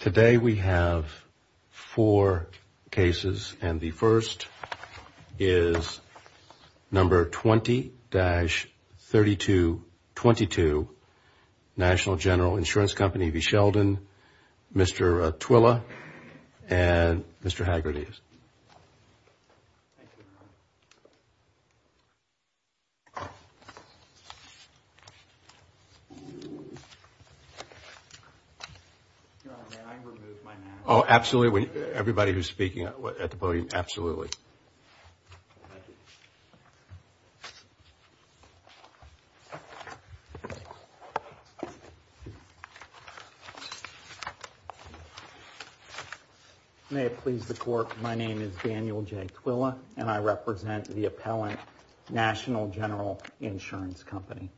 Today we have four cases, and the first is number 20-3222, National General Insurance Company v. Sheldon, Mr. Twilla, and Mr. Haggerty. May it please the Court, my name is Daniel J. Twilla, and I represent the appellant, National General Insurance Company.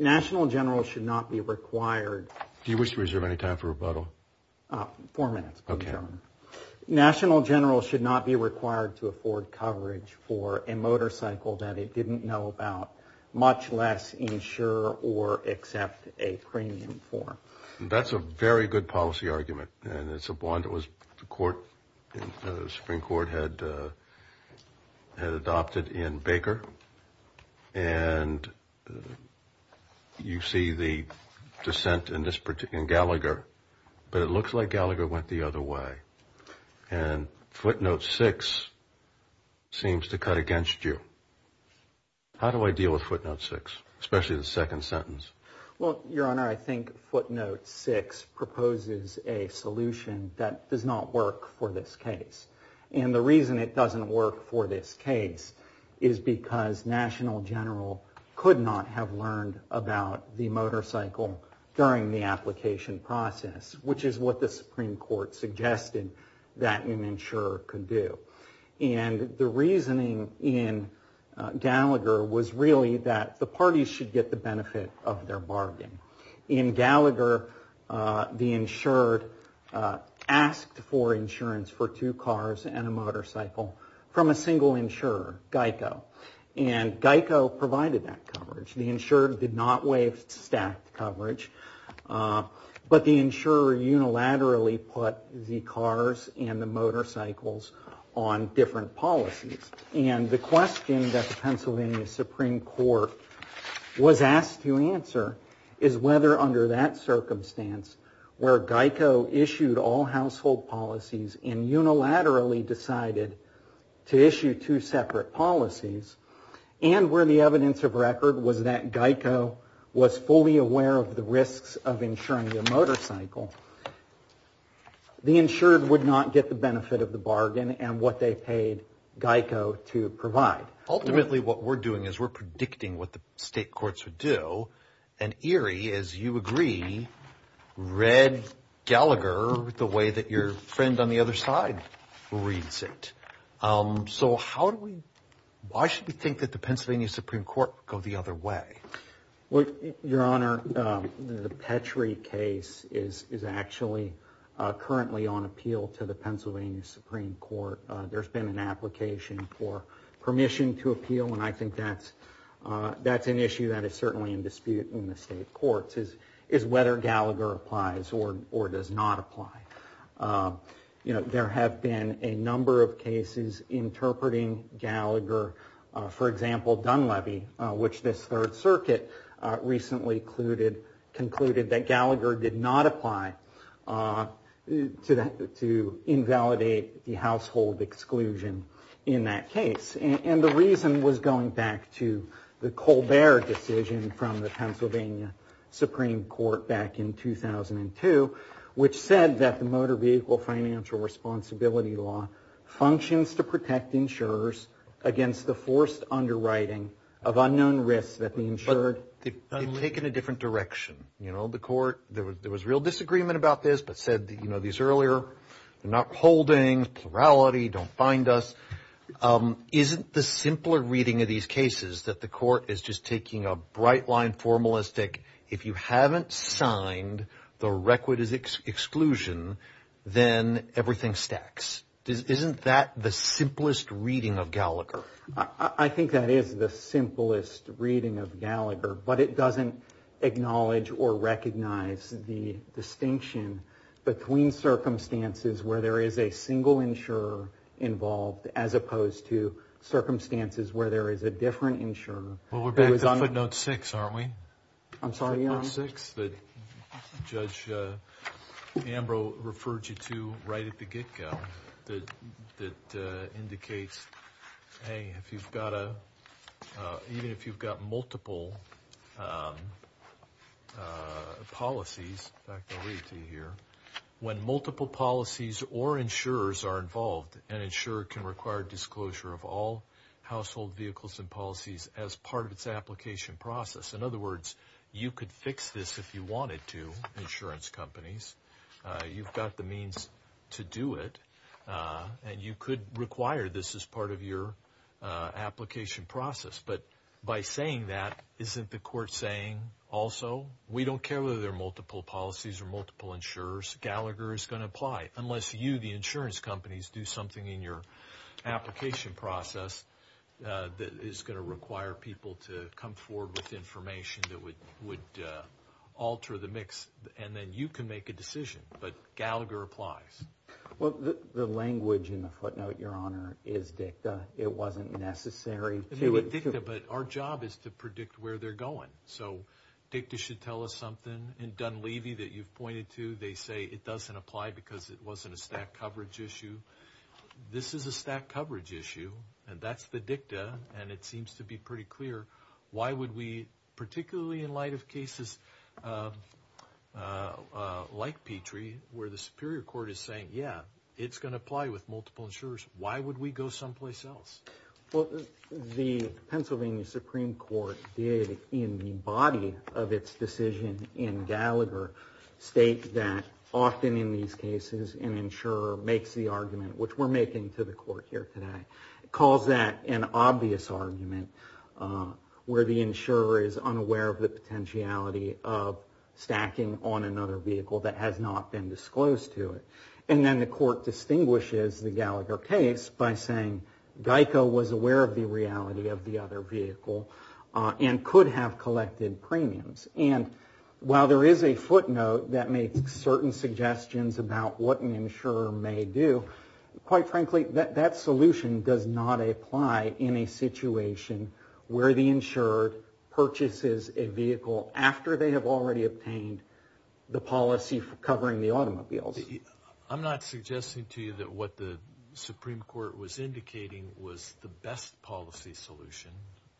National General should not be required Do you wish to reserve any time for rebuttal? Four minutes, please, Your Honor. National General should not be required to afford coverage for a motorcycle that it didn't know about, much less insure or accept a premium for. That's a very good policy argument, and it's one that the Supreme Court had adopted in Baker, and you see the dissent in Gallagher, but it looks like Gallagher went the other way, and footnote 6 seems to cut against you. How do I deal with footnote 6, especially the second sentence? Well, Your Honor, I think footnote 6 proposes a solution that does not work for this case, and the reason it doesn't work for this case is because National General could not have learned about the motorcycle during the application process, which is what the Supreme Court suggested that an insurer could do. And the reasoning in Gallagher was really that the parties should get the benefit of their bargain. In Gallagher, the insured asked for insurance for two cars and a motorcycle from a single insurer, Geico, and Geico provided that coverage. The insured did not waive staff coverage, but the insurer unilaterally put the cars and the motorcycles on different policies. And the question that the Pennsylvania Supreme Court was asked to answer is whether under that circumstance, where Geico issued all household policies and unilaterally decided to issue two separate policies, and where the evidence of record was that Geico was fully aware of the risks of insuring a motorcycle, the insured would not get the benefit of the bargain and what they paid Geico to provide. So how do we, why should we think that the Pennsylvania Supreme Court would go the other way? Your Honor, the Petrie case is actually currently on appeal to the Pennsylvania Supreme Court. There's been an application for permission to appeal, and I think that's an issue that is certainly in dispute in the state courts, is whether Gallagher applies or does not apply. You know, there have been a number of cases interpreting Gallagher. For example, Dunleavy, which this Third Circuit recently concluded that Gallagher did not apply to invalidate the household exclusion in that case. And the reason was going back to the Colbert decision from the Pennsylvania Supreme Court back in 2002, which said that the Motor Vehicle Financial Responsibility Law functions to protect insurers against the forced underwriting of unknown risks that the insured. But they've taken a different direction. You know, the court, there was real disagreement about this, but said, you know, these earlier, they're not holding, plurality, don't find us. Isn't the simpler reading of these cases that the court is just taking a bright-line formalistic, if you haven't signed, the record is exclusion, then everything stacks? Isn't that the simplest reading of Gallagher? I think that is the simplest reading of Gallagher, but it doesn't acknowledge or recognize the distinction between circumstances where there is a single insurer involved as opposed to circumstances where there is a different insurer. Well, we're back to footnote six, aren't we? I'm sorry, Your Honor? Footnote six that Judge Ambrose referred you to right at the get-go that indicates, hey, if you've got a, even if you've got multiple policies, in fact, I'll read it to you here. When multiple policies or insurers are involved, an insurer can require disclosure of all household vehicles and policies as part of its application process. In other words, you could fix this if you wanted to, insurance companies, you've got the means to do it, and you could require this as part of your application process. But by saying that, isn't the court saying also, we don't care whether there are multiple policies or multiple insurers, Gallagher is going to apply, unless you, the insurance companies, do something in your application process that is going to require people to come forward with information that would alter the mix, and then you can make a decision, but Gallagher applies. Well, the language in the footnote, Your Honor, is dicta. It wasn't necessary to... Yeah, it's going to apply with multiple insurers. Why would we go someplace else? Well, the Pennsylvania Supreme Court did, in the body of its decision in Gallagher, state that often in these cases, an insurer makes the argument, which we're making to the court here today, calls that an obvious argument, where the insurer is unaware of the potentiality of stacking on another vehicle that has not been disclosed to it. And then the court distinguishes the Gallagher case by saying, GEICO was aware of the reality of the other vehicle, and could have collected premiums. And while there is a footnote that makes certain suggestions about what an insurer may do, quite frankly, that solution does not apply in a situation where the insurer purchases a vehicle after they have already obtained the policy covering the automobiles. I'm not suggesting to you that what the Supreme Court was indicating was the best policy solution.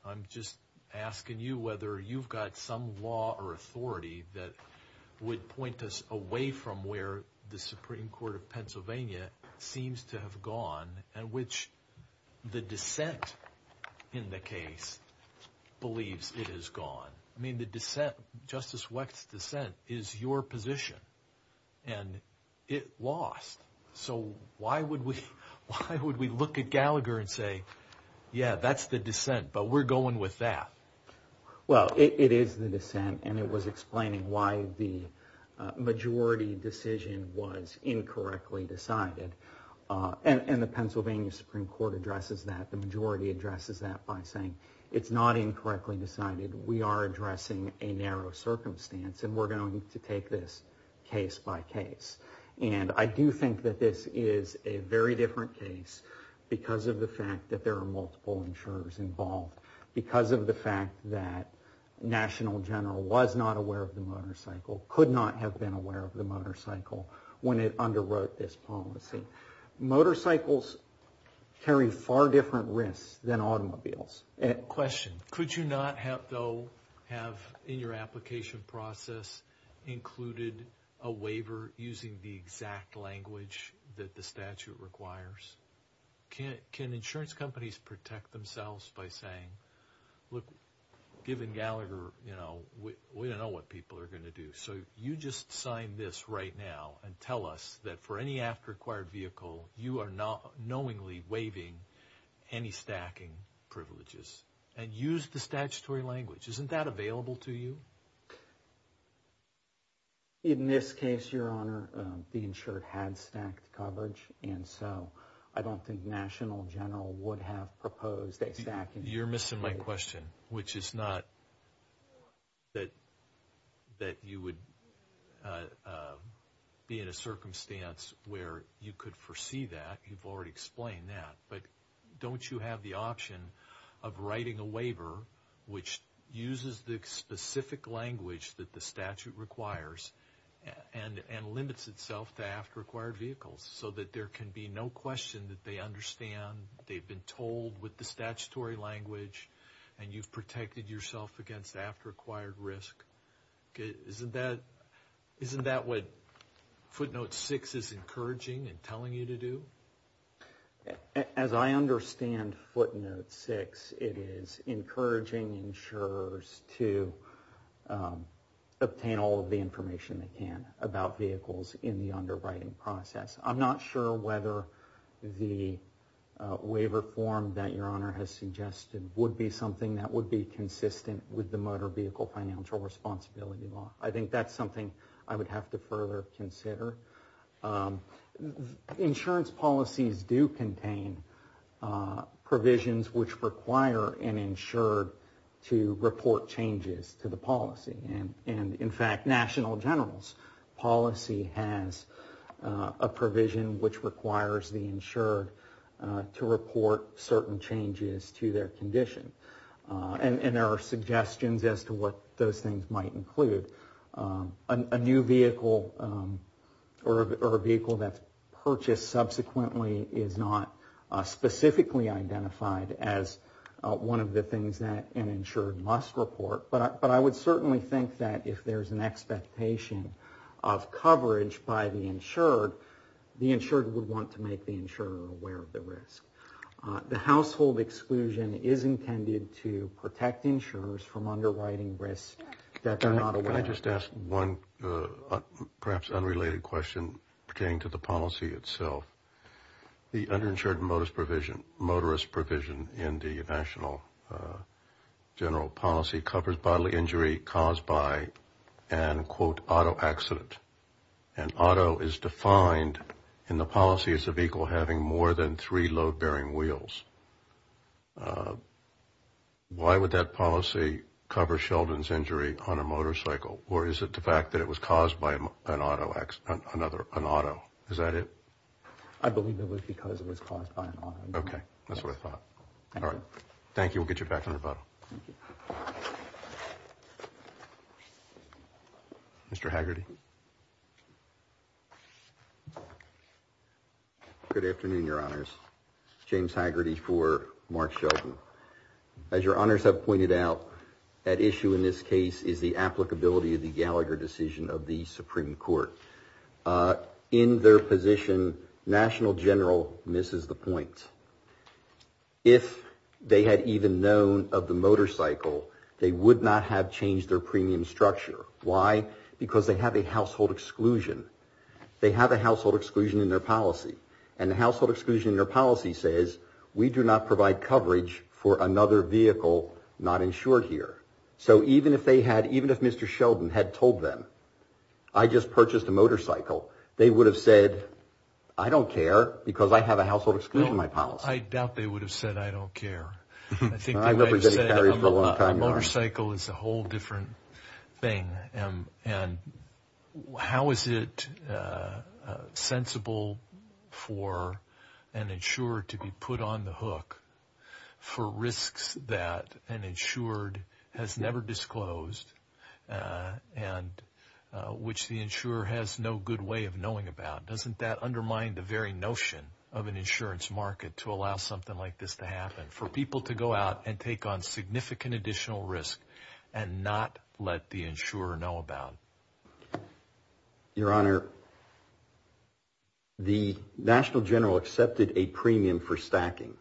I'm just asking you whether you've got some law or authority that would point us away from where the Supreme Court of Pennsylvania seems to have gone, and which the dissent in the case believes it has gone. I mean, the dissent, Justice Weck's dissent, is your position. And it lost. So why would we look at Gallagher and say, yeah, that's the dissent, but we're going with that? Well, it is the dissent, and it was explaining why the majority decision was incorrectly decided. And the Pennsylvania Supreme Court addresses that. The majority addresses that by saying, it's not incorrectly decided, we are addressing a narrow circumstance, and we're going to take this case by case. And I do think that this is a very different case because of the fact that there are multiple insurers involved, because of the fact that National General was not aware of the motorcycle, could not have been aware of the motorcycle when it underwrote this policy. Motorcycles carry far different risks than automobiles. Question. Could you not have, though, have in your application process included a waiver using the exact language that the statute requires? Can insurance companies protect themselves by saying, look, given Gallagher, you know, we don't know what people are going to do. So you just sign this right now and tell us that for any after-acquired vehicle, you are knowingly waiving any stacking privileges. And use the statutory language. Isn't that available to you? In this case, Your Honor, the insured had stacked coverage, and so I don't think National General would have proposed a stacking privilege. language that the statute requires and limits itself to after-acquired vehicles so that there can be no question that they understand, they've been told with the statutory language, and you've protected yourself against after-acquired risk. Isn't that what Footnote 6 is encouraging and telling you to do? As I understand Footnote 6, it is encouraging insurers to obtain all of the information they can about vehicles in the underwriting process. I'm not sure whether the waiver form that Your Honor has suggested would be something that would be consistent with the Motor Vehicle Financial Responsibility Law. I think that's something I would have to further consider. Insurance policies do contain provisions which require an insured to report changes to the policy. And in fact, National General's policy has a provision which requires the insured to report certain changes to their condition. And there are suggestions as to what those things might include. A new vehicle or a vehicle that's purchased subsequently is not specifically identified as one of the things that an insured must report. But I would certainly think that if there's an expectation of coverage by the insured, the insured would want to make the insurer aware of the risk. The household exclusion is intended to protect insurers from underwriting risk that they're not aware of. Can I just ask one perhaps unrelated question pertaining to the policy itself? The underinsured motorist provision in the National General policy covers bodily injury caused by an, quote, auto accident. And auto is defined in the policy as a vehicle having more than three load-bearing wheels. Why would that policy cover Sheldon's injury on a motorcycle? Or is it the fact that it was caused by an auto accident, another, an auto? Is that it? I believe it was because it was caused by an auto. Okay. That's what I thought. All right. Thank you. We'll get you back on the phone. Mr. Haggerty. Good afternoon, Your Honors. James Haggerty for Mark Sheldon. As Your Honors have pointed out, at issue in this case is the applicability of the Gallagher decision of the Supreme Court. In their position, National General misses the point. If they had even known of the motorcycle, they would not have changed their premium structure. Why? Because they have a household exclusion. They have a household exclusion in their policy. And the household exclusion in their policy says we do not provide coverage for another vehicle not insured here. So even if they had, even if Mr. Sheldon had told them, I just purchased a motorcycle, they would have said, I don't care because I have a household exclusion in my policy. I doubt they would have said, I don't care. I think they would have said a motorcycle is a whole different thing. And how is it sensible for an insurer to be put on the hook for risks that an insured has never disclosed and which the insurer has no good way of knowing about? Doesn't that undermine the very notion of an insurance market to allow something like this to happen? For people to go out and take on significant additional risk and not let the insurer know about? Your Honor, the National General accepted a premium for stacking.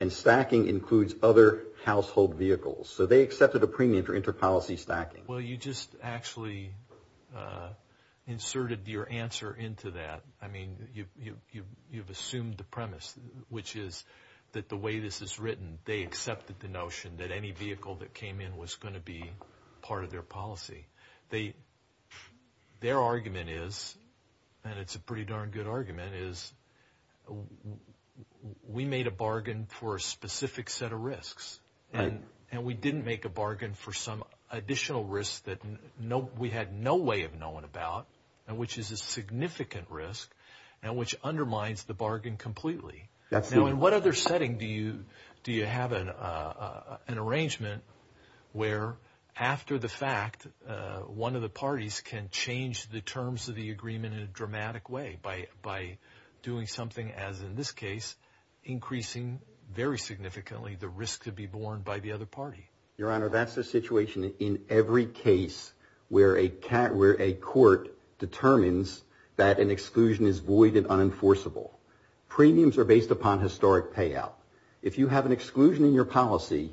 And stacking includes other household vehicles. So they accepted a premium for inter-policy stacking. Well, you just actually inserted your answer into that. I mean, you've assumed the premise, which is that the way this is written, they accepted the notion that any vehicle that came in was going to be part of their policy. Their argument is, and it's a pretty darn good argument, is we made a bargain for a specific set of risks. And we didn't make a bargain for some additional risk that we had no way of knowing about and which is a significant risk and which undermines the bargain completely. Now, in what other setting do you have an arrangement where, after the fact, one of the parties can change the terms of the agreement in a dramatic way by doing something, as in this case, increasing very significantly the risk to be borne by the other party? Your Honor, that's a situation in every case where a court determines that an exclusion is void and unenforceable. Premiums are based upon historic payout. If you have an exclusion in your policy,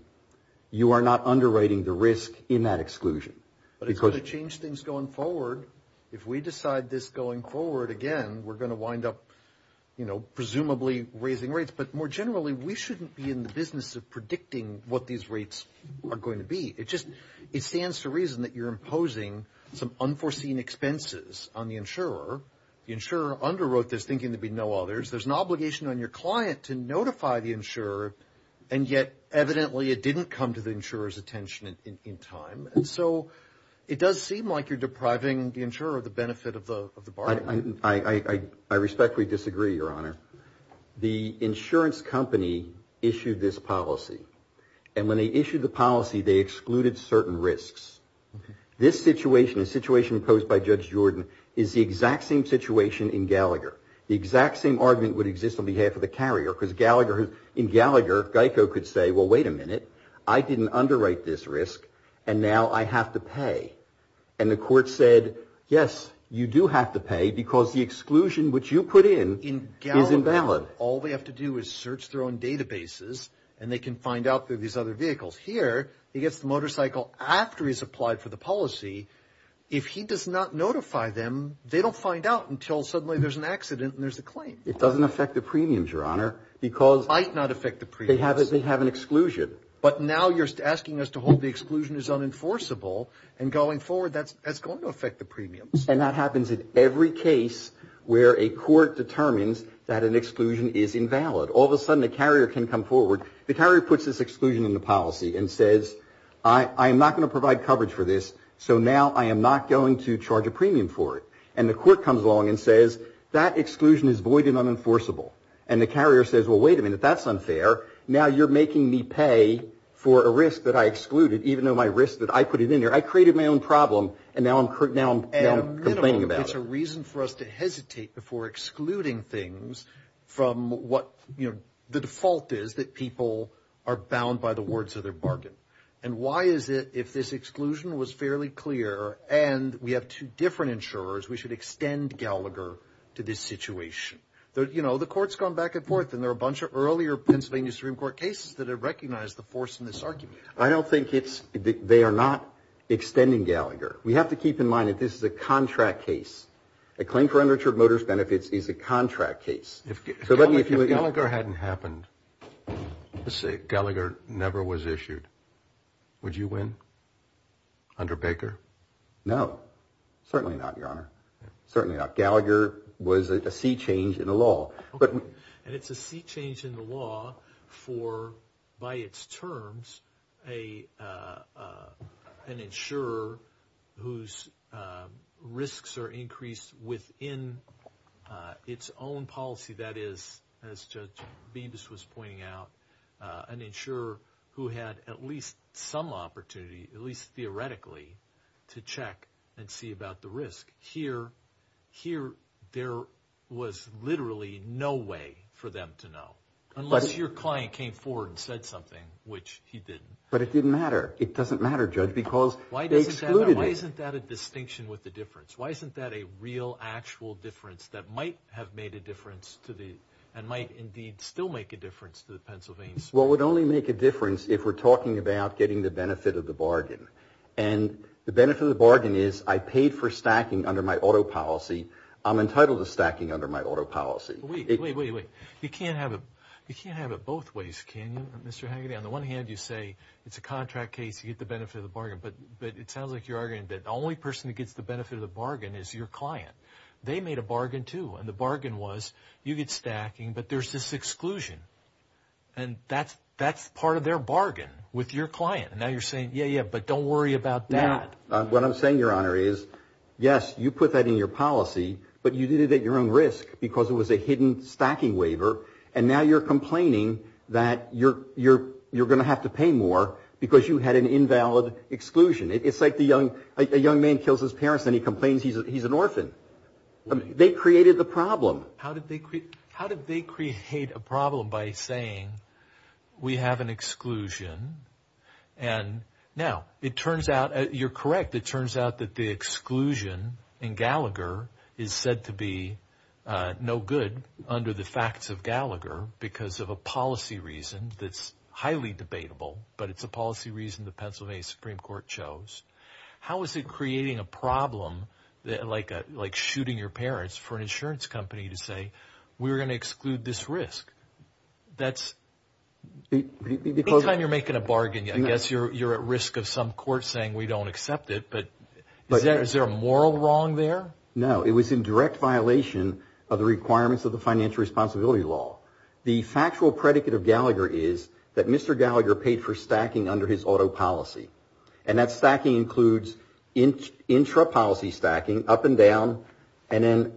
you are not underwriting the risk in that exclusion. But it's going to change things going forward. If we decide this going forward, again, we're going to wind up, you know, presumably raising rates. But more generally, we shouldn't be in the business of predicting what these rates are going to be. It just, it stands to reason that you're imposing some unforeseen expenses on the insurer. The insurer underwrote this thinking there'd be no others. There's an obligation on your client to notify the insurer. And yet, evidently, it didn't come to the insurer's attention in time. And so it does seem like you're depriving the insurer of the benefit of the bargain. I respectfully disagree, Your Honor. The insurance company issued this policy. And when they issued the policy, they excluded certain risks. This situation, the situation posed by Judge Jordan, is the exact same situation in Gallagher. The exact same argument would exist on behalf of the carrier because Gallagher, in Gallagher, Geico could say, well, wait a minute, I didn't underwrite this risk, and now I have to pay. And the court said, yes, you do have to pay because the exclusion which you put in is invalid. All they have to do is search their own databases, and they can find out through these other vehicles. Here, he gets the motorcycle after he's applied for the policy. If he does not notify them, they don't find out until suddenly there's an accident and there's a claim. It doesn't affect the premiums, Your Honor, because they have an exclusion. But now you're asking us to hold the exclusion as unenforceable. And going forward, that's going to affect the premiums. And that happens in every case where a court determines that an exclusion is invalid. All of a sudden, the carrier can come forward. The carrier puts this exclusion in the policy and says, I am not going to provide coverage for this, so now I am not going to charge a premium for it. And the court comes along and says, that exclusion is void and unenforceable. And the carrier says, well, wait a minute, that's unfair. Now you're making me pay for a risk that I excluded, even though my risk that I put it in there. I created my own problem, and now I'm complaining about it. It's a reason for us to hesitate before excluding things from what the default is that people are bound by the words of their bargain. And why is it, if this exclusion was fairly clear, and we have two different insurers, we should extend Gallagher to this situation? You know, the court's gone back and forth, and there are a bunch of earlier Pennsylvania Supreme Court cases that have recognized the force in this argument. I don't think it's – they are not extending Gallagher. We have to keep in mind that this is a contract case. A claim for unreturned motorist benefits is a contract case. If Gallagher hadn't happened, let's say Gallagher never was issued, would you win under Baker? No, certainly not, Your Honor. Certainly not. Gallagher was a sea change in the law. And it's a sea change in the law for, by its terms, an insurer whose risks are increased within its own policy. That is, as Judge Beebes was pointing out, an insurer who had at least some opportunity, at least theoretically, to check and see about the risk. Here, there was literally no way for them to know, unless your client came forward and said something, which he didn't. But it didn't matter. It doesn't matter, Judge, because they excluded it. Your Honor, why isn't that a distinction with the difference? Why isn't that a real, actual difference that might have made a difference to the – and might indeed still make a difference to the Pennsylvanians? Well, it would only make a difference if we're talking about getting the benefit of the bargain. And the benefit of the bargain is I paid for stacking under my auto policy. I'm entitled to stacking under my auto policy. Wait, wait, wait, wait. You can't have it both ways, can you, Mr. Hagedy? On the one hand, you say it's a contract case. You get the benefit of the bargain. But it sounds like you're arguing that the only person who gets the benefit of the bargain is your client. They made a bargain, too. And the bargain was you get stacking, but there's this exclusion. And that's part of their bargain with your client. And now you're saying, yeah, yeah, but don't worry about that. What I'm saying, Your Honor, is, yes, you put that in your policy, but you did it at your own risk because it was a hidden stacking waiver. And now you're complaining that you're going to have to pay more because you had an invalid exclusion. It's like a young man kills his parents and he complains he's an orphan. They created the problem. How did they create a problem by saying we have an exclusion? And now it turns out you're correct. It turns out that the exclusion in Gallagher is said to be no good under the facts of Gallagher because of a policy reason that's highly debatable. But it's a policy reason the Pennsylvania Supreme Court chose. How is it creating a problem like like shooting your parents for an insurance company to say we're going to exclude this risk? That's because anytime you're making a bargain, I guess you're at risk of some court saying we don't accept it. But is there a moral wrong there? No, it was in direct violation of the requirements of the financial responsibility law. The factual predicate of Gallagher is that Mr. Gallagher paid for stacking under his auto policy. And that stacking includes intrapolicy stacking up and down and then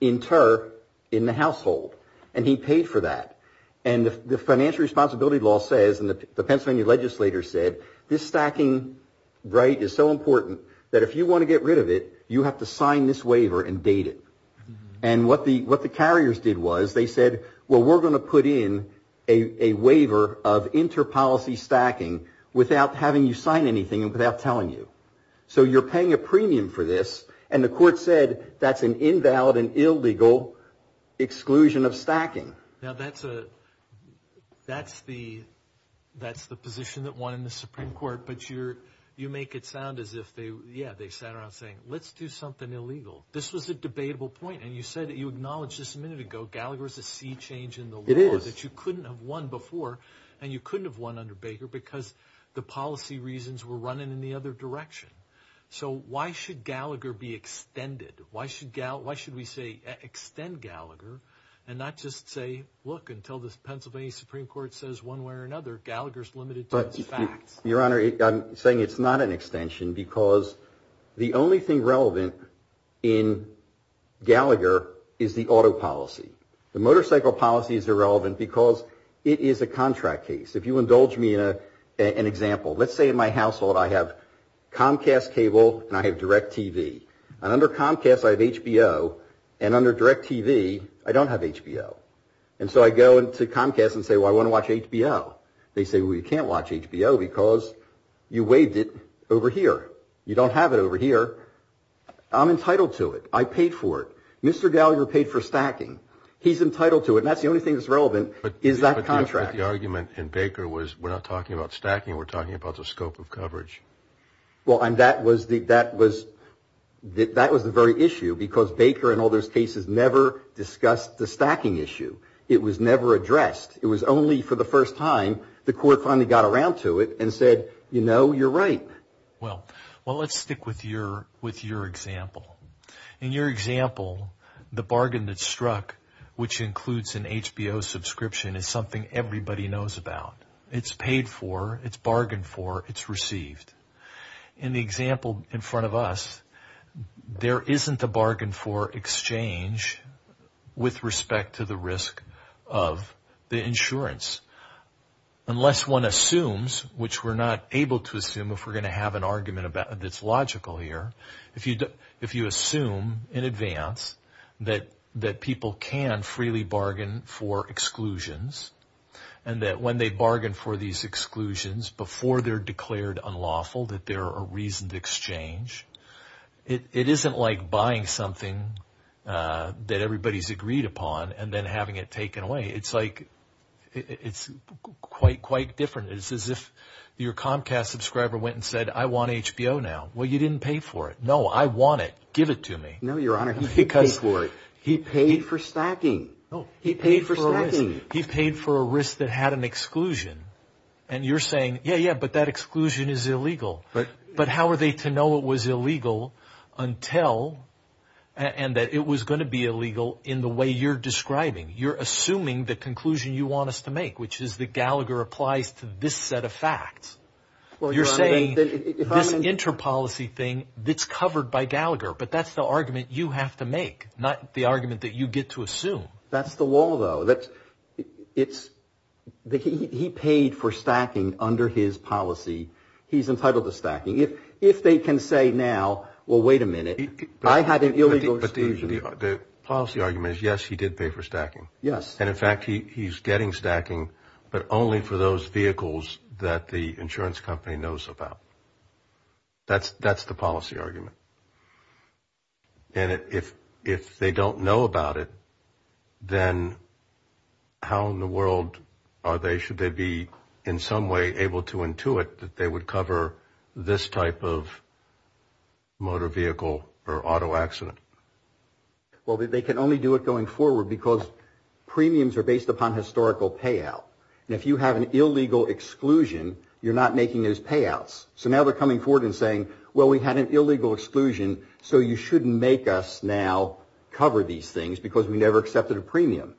inter in the household. And he paid for that. And the financial responsibility law says and the Pennsylvania legislators said this stacking right is so important that if you want to get rid of it, you have to sign this waiver and date it. And what the what the carriers did was they said, well, we're going to put in a waiver of interpolicy stacking without having you sign anything and without telling you. So you're paying a premium for this. And the court said that's an invalid and illegal exclusion of stacking. Now, that's a that's the that's the position that won in the Supreme Court. But you're you make it sound as if they yeah, they sat around saying, let's do something illegal. This was a debatable point. And you said that you acknowledge this a minute ago. Gallagher is a sea change in the laws that you couldn't have won before. And you couldn't have won under Baker because the policy reasons were running in the other direction. So why should Gallagher be extended? Why should Gallagher? Why should we say extend Gallagher and not just say, look, until the Pennsylvania Supreme Court says one way or another, Gallagher's limited. But your honor, I'm saying it's not an extension because the only thing relevant in Gallagher is the auto policy. The motorcycle policy is irrelevant because it is a contract case. If you indulge me in an example, let's say in my household, I have Comcast cable and I have direct TV and under Comcast, I have HBO and under direct TV. I don't have HBO. And so I go into Comcast and say, well, I want to watch HBO. They say we can't watch HBO because you waved it over here. You don't have it over here. I'm entitled to it. I paid for it. Mr. Gallagher paid for stacking. He's entitled to it. And that's the only thing that's relevant is that contract. The argument in Baker was we're not talking about stacking. We're talking about the scope of coverage. Well, and that was the that was that was the very issue because Baker and all those cases never discussed the stacking issue. It was never addressed. It was only for the first time the court finally got around to it and said, you know, you're right. Well, well, let's stick with your with your example and your example. The bargain that struck, which includes an HBO subscription, is something everybody knows about. It's paid for. It's bargained for. It's received. In the example in front of us, there isn't a bargain for exchange with respect to the risk of the insurance. Unless one assumes, which we're not able to assume if we're going to have an argument about that's logical here. If you if you assume in advance that that people can freely bargain for exclusions and that when they bargain for these exclusions, before they're declared unlawful, that there are reasoned exchange. It isn't like buying something that everybody's agreed upon and then having it taken away. It's like it's quite, quite different. It's as if your Comcast subscriber went and said, I want HBO now. Well, you didn't pay for it. No, I want it. Give it to me. No, Your Honor, because for it, he paid for stacking. He paid for he paid for a risk that had an exclusion. And you're saying, yeah, yeah, but that exclusion is illegal. But but how are they to know it was illegal until and that it was going to be illegal in the way you're describing? You're assuming the conclusion you want us to make, which is that Gallagher applies to this set of facts. Well, you're saying that this interpolicy thing that's covered by Gallagher. But that's the argument you have to make, not the argument that you get to assume. That's the wall, though, that it's that he paid for stacking under his policy. He's entitled to stacking if if they can say now, well, wait a minute. But the policy argument is, yes, he did pay for stacking. Yes. And in fact, he's getting stacking. But only for those vehicles that the insurance company knows about. That's that's the policy argument. And if if they don't know about it, then how in the world are they? Should they be in some way able to intuit that they would cover this type of motor vehicle or auto accident? Well, they can only do it going forward because premiums are based upon historical payout. And if you have an illegal exclusion, you're not making those payouts. So now they're coming forward and saying, well, we had an illegal exclusion. So you shouldn't make us now cover these things because we never accepted a premium.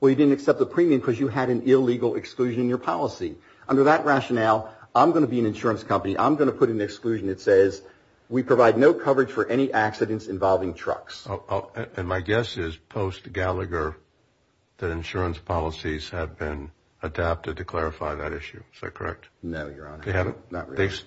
Well, you didn't accept the premium because you had an illegal exclusion in your policy. Under that rationale, I'm going to be an insurance company. I'm going to put an exclusion. It says we provide no coverage for any accidents involving trucks. And my guess is post Gallagher, that insurance policies have been adapted to clarify that issue. So, correct. No, you're not. They haven't.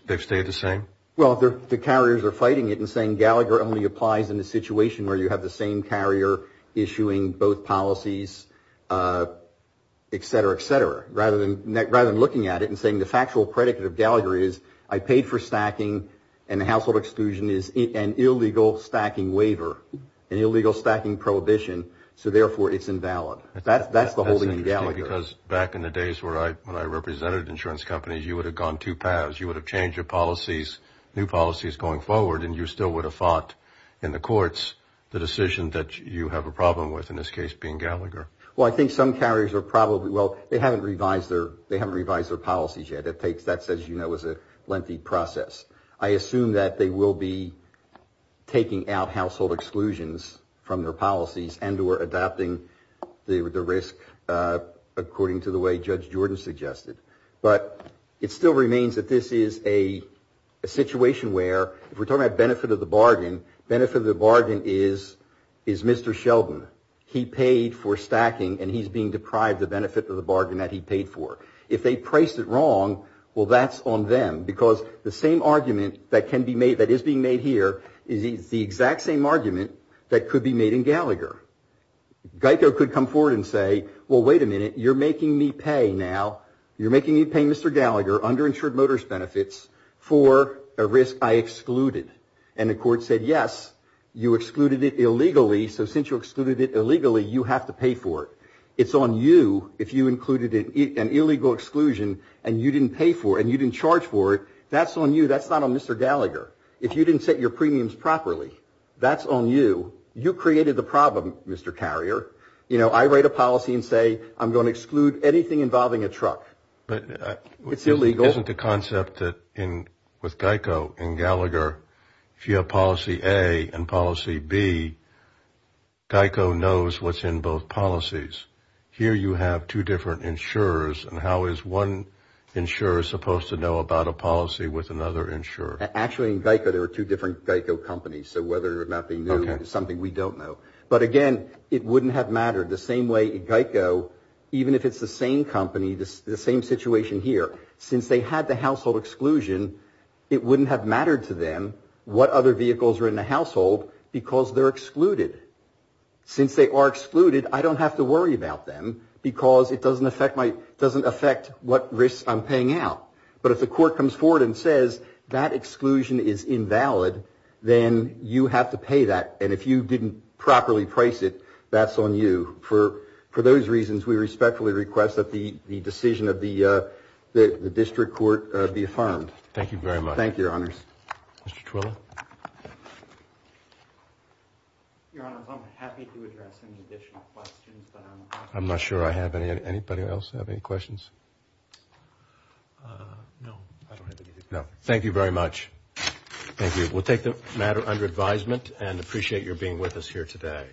They've stayed the same. Well, they're the carriers are fighting it and saying Gallagher only applies in a situation where you have the same carrier issuing both policies, et cetera, et cetera. Rather than looking at it and saying the factual predicate of Gallagher is I paid for stacking and the household exclusion is an illegal stacking waiver, an illegal stacking prohibition. So, therefore, it's invalid. That's the holding in Gallagher. Because back in the days when I represented insurance companies, you would have gone two paths. You would have changed your policies, new policies going forward, and you still would have fought in the courts the decision that you have a problem with, in this case, being Gallagher. Well, I think some carriers are probably, well, they haven't revised their policies yet. That's, as you know, is a lengthy process. I assume that they will be taking out household exclusions from their policies and or adopting the risk according to the way Judge Jordan suggested. But it still remains that this is a situation where if we're talking about benefit of the bargain, benefit of the bargain is Mr. Sheldon. He paid for stacking and he's being deprived the benefit of the bargain that he paid for. If they priced it wrong, well, that's on them. Because the same argument that can be made, that is being made here, is the exact same argument that could be made in Gallagher. Geico could come forward and say, well, wait a minute, you're making me pay now. You're making me pay Mr. Gallagher, underinsured motorist benefits, for a risk I excluded. And the court said, yes, you excluded it illegally. So since you excluded it illegally, you have to pay for it. It's on you if you included an illegal exclusion and you didn't pay for it and you didn't charge for it. That's on you. That's not on Mr. Gallagher. If you didn't set your premiums properly, that's on you. You created the problem, Mr. Carrier. You know, I write a policy and say I'm going to exclude anything involving a truck. It's illegal. But isn't the concept that with Geico in Gallagher, if you have policy A and policy B, Geico knows what's in both policies. Here you have two different insurers. And how is one insurer supposed to know about a policy with another insurer? Actually, in Geico, there are two different Geico companies. So whether or not they knew is something we don't know. But, again, it wouldn't have mattered the same way Geico, even if it's the same company, the same situation here, since they had the household exclusion, it wouldn't have mattered to them what other vehicles were in the household because they're excluded. Since they are excluded, I don't have to worry about them because it doesn't affect what risks I'm paying out. But if the court comes forward and says that exclusion is invalid, then you have to pay that. And if you didn't properly price it, that's on you. For those reasons, we respectfully request that the decision of the district court be affirmed. Thank you very much. Thank you, Your Honors. Mr. Twilley? Your Honors, I'm happy to address any additional questions. I'm not sure I have any. Anybody else have any questions? No. No. Thank you very much. Thank you. We'll take the matter under advisement and appreciate your being with us here today.